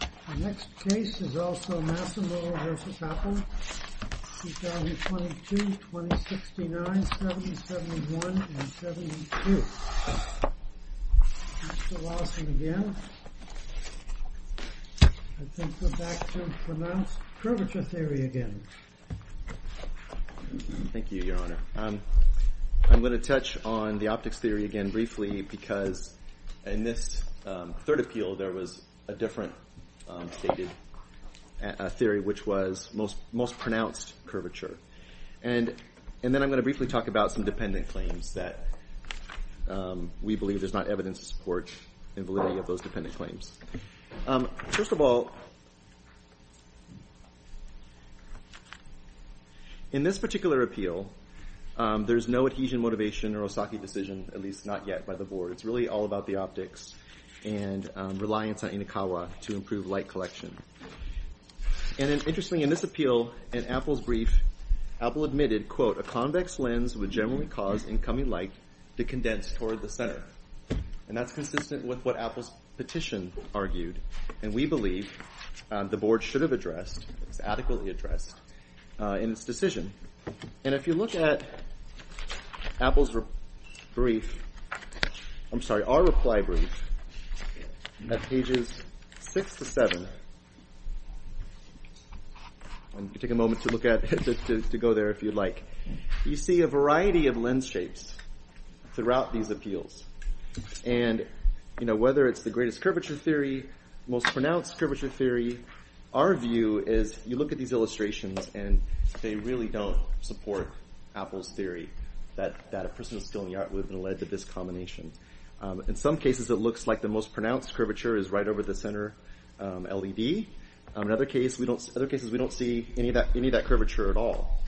The next case is also Massimo v. Apple, 2022-2069, 70-71 and 70-72. Mr. Lawson again. I think we're back to pronounced curvature theory again. Thank you, Your Honor. I'm going to touch on the optics theory again briefly because in this third appeal, there was a different theory which was most pronounced curvature. And then I'm going to briefly talk about some dependent claims that we believe there's not evidence to support in validity of those dependent claims. First of all, in this particular appeal, there's no adhesion motivation or Osaki decision, at least not yet by the board. It's really all about the optics and reliance on Inokawa to improve light collection. And interestingly, in this appeal, in Apple's brief, Apple admitted, quote, a convex lens would generally cause incoming light to condense toward the center. And that's consistent with what Apple's petition argued. And we believe the board should have addressed, adequately addressed in its decision. And if you look at Apple's brief, I'm sorry, our reply brief at pages six to seven. Take a moment to look at it, to go there if you'd like. You see a variety of lens shapes throughout these appeals. And, you know, whether it's the greatest curvature theory, most pronounced curvature theory, our view is you look at these illustrations and they really don't support Apple's theory that a person is still in the art world and led to this combination. In some cases, it looks like the most pronounced curvature is right over the center LED. In other cases, we don't see any of that curvature at all.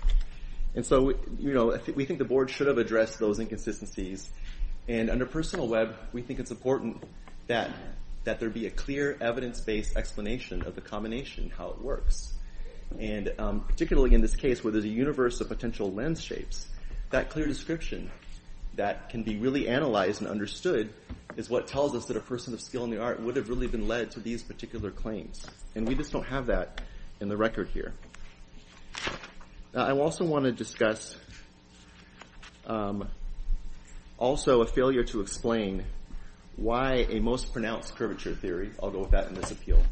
And so, you know, we think the board should have addressed those inconsistencies. And under personal web, we think it's important that that there be a clear evidence based explanation of the combination, how it works. And particularly in this case where there's a universe of potential lens shapes, that clear description that can be really analyzed and understood is what tells us that a person of skill in the art would have really been led to these particular claims. And we just don't have that in the record here. I also want to discuss also a failure to explain why a most pronounced curvature theory, I'll go with that in this appeal,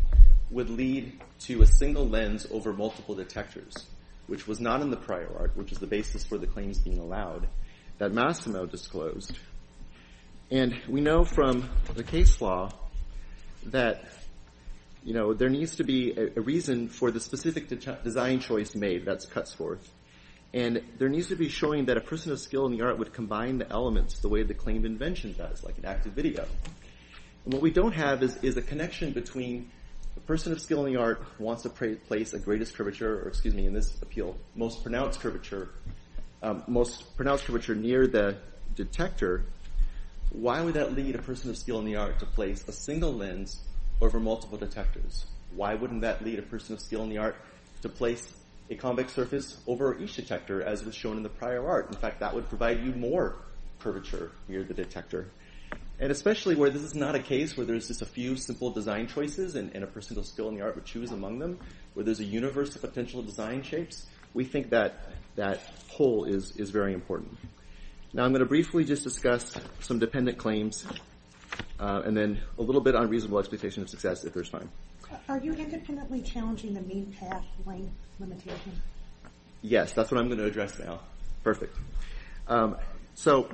would lead to a single lens over multiple detectors, which was not in the prior art, which is the basis for the claims being allowed that Massimo disclosed. And we know from the case law that, you know, there needs to be a reason for the specific design choice made, that's cuts forth. And there needs to be showing that a person of skill in the art would combine the elements the way the claim invention does, like an active video. And what we don't have is a connection between the person of skill in the art wants to place a greatest curvature, or excuse me, in this appeal, most pronounced curvature near the detector. Why would that lead a person of skill in the art to place a single lens over multiple detectors? Why wouldn't that lead a person of skill in the art to place a convex surface over each detector as was shown in the prior art? In fact, that would provide you more curvature near the detector. And especially where this is not a case where there's just a few simple design choices and a person of skill in the art would choose among them, where there's a universe of potential design shapes, we think that pull is very important. Now I'm going to briefly just discuss some dependent claims and then a little bit on reasonable expectation of success, if there's time. Are you independently challenging the mean path length limitation? Yes, that's what I'm going to address now. Perfect. So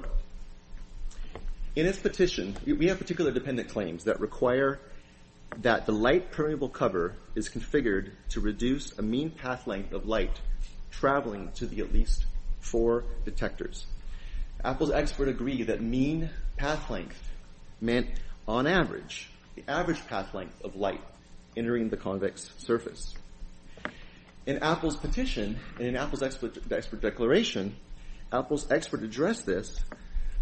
in this petition, we have particular dependent claims that require that the light permeable cover is configured to reduce a mean path length of light traveling to the at least four detectors. Apple's expert agree that mean path length meant on average, the average path length of light entering the convex surface. In Apple's petition and in Apple's expert declaration, Apple's expert addressed this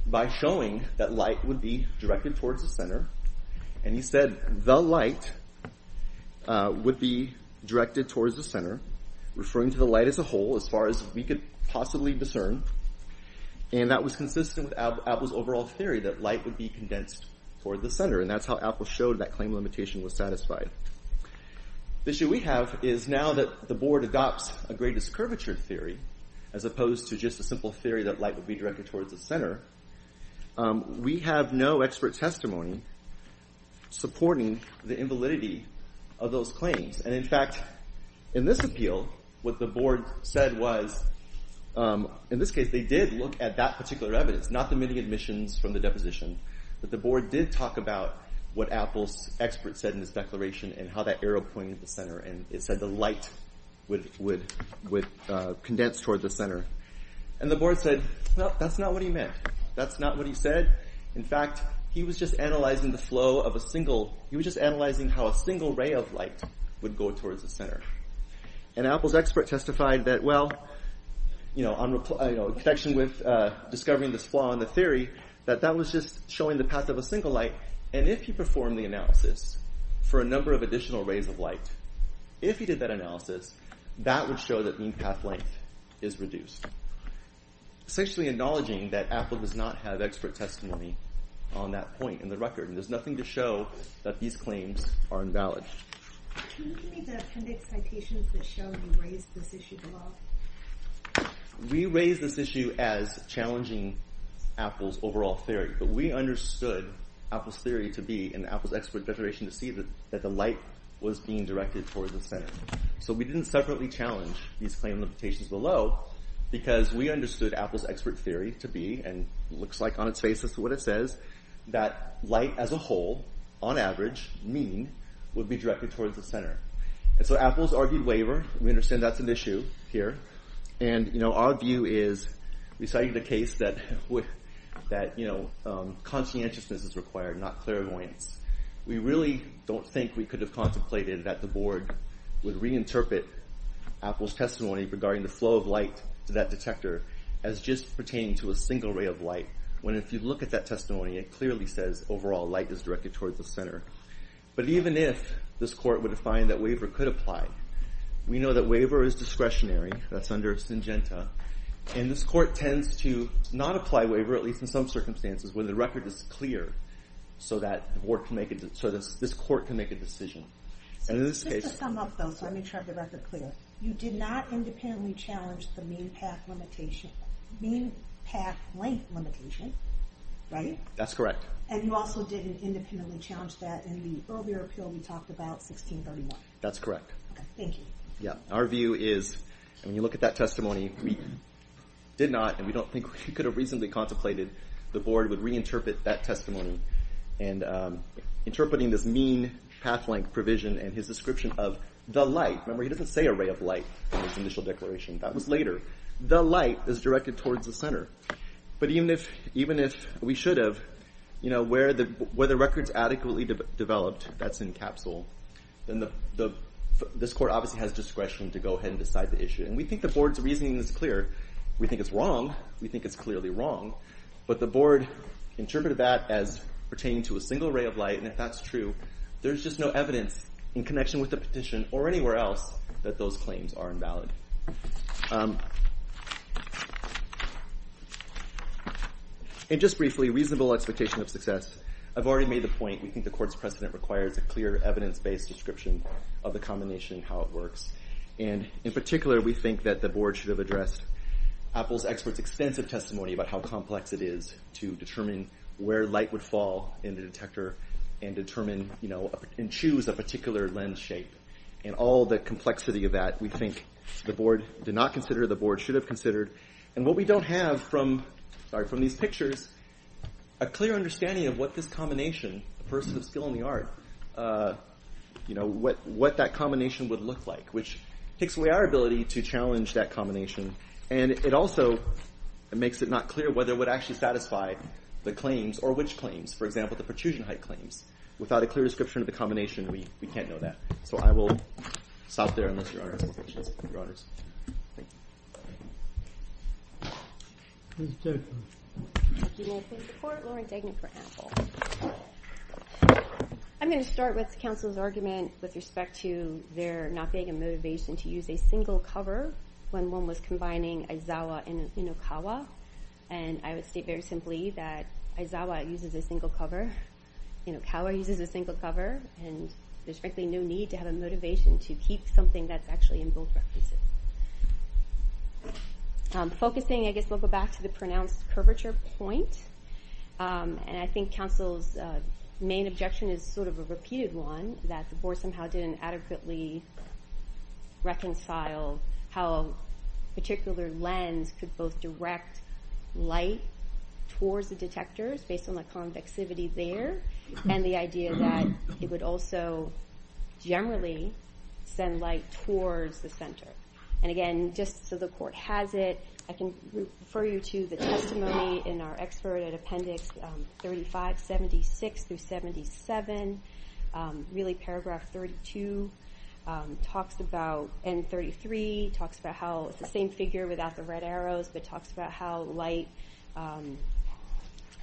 by showing that light would be directed towards the center. And he said the light would be directed towards the center, referring to the light as a whole, as far as we could possibly discern. And that was consistent with Apple's overall theory that light would be condensed toward the center. And that's how Apple showed that claim limitation was satisfied. The issue we have is now that the board adopts a greatest curvature theory, as opposed to just a simple theory that light would be directed towards the center. We have no expert testimony supporting the invalidity of those claims. And in fact, in this appeal, what the board said was, in this case, they did look at that particular evidence, not the many admissions from the deposition. But the board did talk about what Apple's expert said in this declaration and how that arrow pointed to the center. And it said the light would condense toward the center. And the board said, no, that's not what he meant. That's not what he said. In fact, he was just analyzing the flow of a single, he was just analyzing how a single ray of light would go towards the center. And Apple's expert testified that, well, in connection with discovering this flaw in the theory, that that was just showing the path of a single light. And if he performed the analysis for a number of additional rays of light, if he did that analysis, that would show that mean path length is reduced. Essentially acknowledging that Apple does not have expert testimony on that point in the record. There's nothing to show that these claims are invalid. Can you give me the appendix citations that show you raised this issue below? We raised this issue as challenging Apple's overall theory. But we understood Apple's theory to be in Apple's expert declaration to see that the light was being directed towards the center. So we didn't separately challenge these claim limitations below because we understood Apple's expert theory to be, and looks like on its face as to what it says, that light as a whole, on average, mean, would be directed towards the center. And so Apple's argued waiver. We understand that's an issue here. And our view is, we cited the case that conscientiousness is required, not clairvoyance. We really don't think we could have contemplated that the board would reinterpret Apple's testimony regarding the flow of light to that detector as just pertaining to a single ray of light. When if you look at that testimony, it clearly says overall light is directed towards the center. But even if this court were to find that waiver could apply, we know that waiver is discretionary, that's under Syngenta. And this court tends to not apply waiver, at least in some circumstances, when the record is clear so that this court can make a decision. Just to sum up, though, so I make sure I have the record clear. You did not independently challenge the mean path length limitation, right? That's correct. And you also didn't independently challenge that in the earlier appeal we talked about, 1631? That's correct. Thank you. Our view is, when you look at that testimony, we did not, and we don't think we could have reasonably contemplated the board would reinterpret that testimony. And interpreting this mean path length provision and his description of the light. Remember, he doesn't say a ray of light in his initial declaration. That was later. The light is directed towards the center. But even if we should have, where the record's adequately developed, that's in capsule. Then this court obviously has discretion to go ahead and decide the issue. And we think the board's reasoning is clear. We think it's wrong. We think it's clearly wrong. But the board interpreted that as pertaining to a single ray of light. And if that's true, there's just no evidence in connection with the petition or anywhere else that those claims are invalid. And just briefly, reasonable expectation of success. I've already made the point. We think the court's precedent requires a clear evidence-based description of the combination and how it works. And in particular, we think that the board should have addressed Apple's experts' extensive testimony about how complex it is to determine where light would fall in the detector and choose a particular lens shape. And all the complexity of that, we think the board did not consider, the board should have considered. And what we don't have from these pictures, a clear understanding of what this combination, a person of skill in the art, what that combination would look like. Which takes away our ability to challenge that combination. And it also makes it not clear whether it would actually satisfy the claims or which claims. For example, the protrusion height claims. Without a clear description of the combination, we can't know that. So I will stop there, unless Your Honor has more questions. Your Honors. Thank you. Do you want to take the court? Lauren Degner for Apple. I'm going to start with counsel's argument with respect to their not being a motivation to use a single cover when one was combining Aizawa and Inokawa. And I would state very simply that Aizawa uses a single cover. Inokawa uses a single cover. And there's frankly no need to have a motivation to keep something that's actually in both references. Focusing, I guess we'll go back to the pronounced curvature point. And I think counsel's main objection is sort of a repeated one. That the board somehow didn't adequately reconcile how a particular lens could both direct light towards the detectors based on the convexivity there. And the idea that it would also generally send light towards the center. And again, just so the court has it, I can refer you to the testimony in our expert appendix 3576-77. Really paragraph 32 talks about, and 33 talks about how it's the same figure without the red arrows. But talks about how light,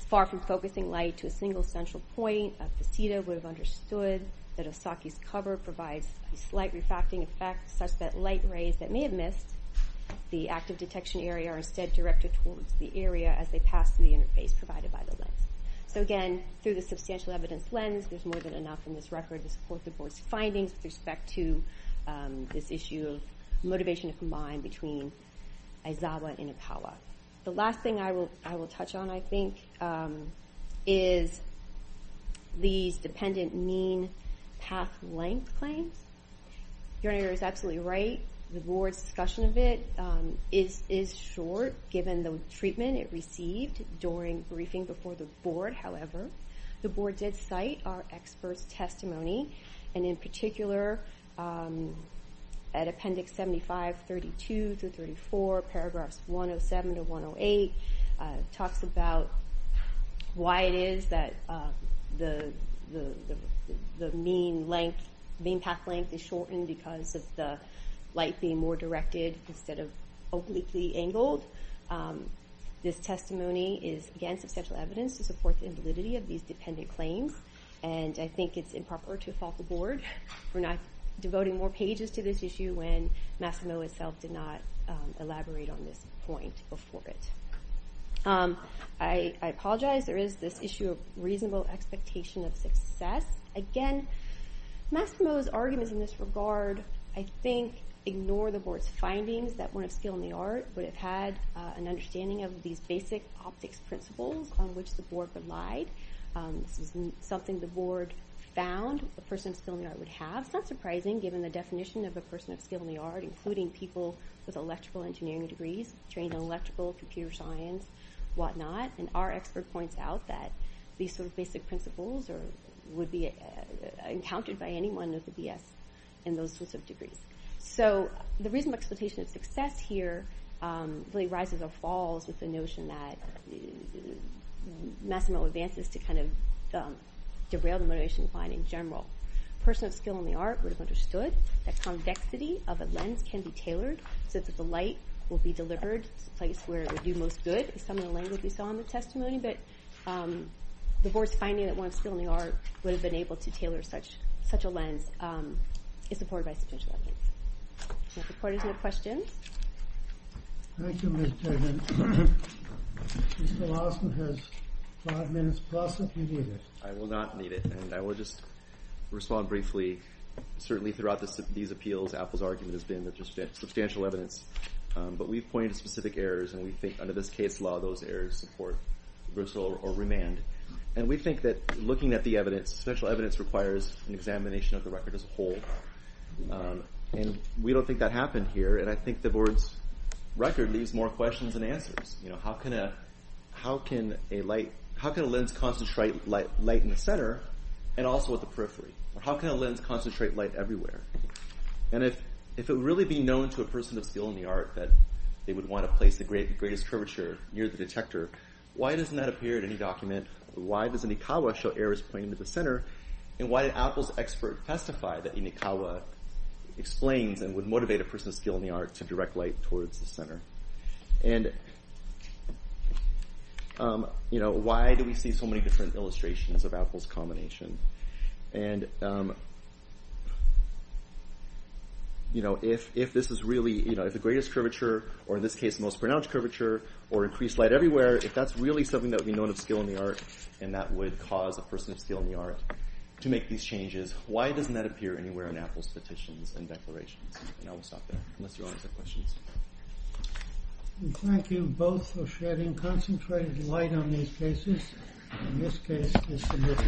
far from focusing light to a single central point, would have understood that Osaki's cover provides a slight refactoring effect such that light rays that may have missed the active detection area are instead directed towards the area as they pass through the interface provided by the lens. So again, through the substantial evidence lens, there's more than enough in this record to support the board's findings with respect to this issue of motivation to combine between Aizawa and Inokawa. The last thing I will touch on, I think, is these dependent mean path length claims. Your honor is absolutely right, the board's discussion of it is short given the treatment it received during briefing before the board. Talks about why it is that the mean path length is shortened because of the light being more directed instead of obliquely angled. This testimony is, again, substantial evidence to support the invalidity of these dependent claims. And I think it's improper to fault the board for not devoting more pages to this issue when Masumoto himself did not elaborate on this point before it. I apologize, there is this issue of reasonable expectation of success. Again, Masumoto's arguments in this regard, I think, ignore the board's findings that one of skill and the art would have had an understanding of these basic optics principles on which the board would lie. This is something the board found a person of skill and the art would have. That's not surprising given the definition of a person of skill and the art, including people with electrical engineering degrees, trained in electrical, computer science, whatnot. And our expert points out that these sort of basic principles would be encountered by anyone with a BS in those sorts of degrees. So the reasonable expectation of success here really rises or falls with the notion that Masumoto advances to kind of derail the motivation in general. A person of skill and the art would have understood that convexity of a lens can be tailored so that the light will be delivered to the place where it would do most good, is some of the language we saw in the testimony. But the board's finding that one of skill and the art would have been able to tailor such a lens is supported by substantial evidence. If the court has no questions. Thank you, Ms. Tegman. Mr. Lawson has five minutes plus if you need it. I will not need it. And I will just respond briefly. Certainly throughout these appeals, Apple's argument has been that there's substantial evidence. But we've pointed to specific errors and we think under this case law, those errors support reversal or remand. And we think that looking at the evidence, special evidence requires an examination of the record as a whole. And we don't think that happened here. And I think the board's record leaves more questions than answers. How can a lens concentrate light in the center and also at the periphery? How can a lens concentrate light everywhere? And if it would really be known to a person of skill and the art that they would want to place the greatest curvature near the detector, why doesn't that appear at any document? Why does Inikawa show errors pointing to the center? And why did Apple's expert testify that Inikawa explains and would motivate a person of skill and the art to direct light towards the center? And, you know, why do we see so many different illustrations of Apple's combination? And, you know, if this is really, you know, if the greatest curvature or in this case the most pronounced curvature or increased light everywhere, if that's really something that would be known of skill and the art and that would cause a person of skill and the art to make these changes, why doesn't that appear anywhere in Apple's petitions and declarations? And I will stop there unless you all have questions. Thank you both for shedding concentrated light on these cases. And this case is submitted.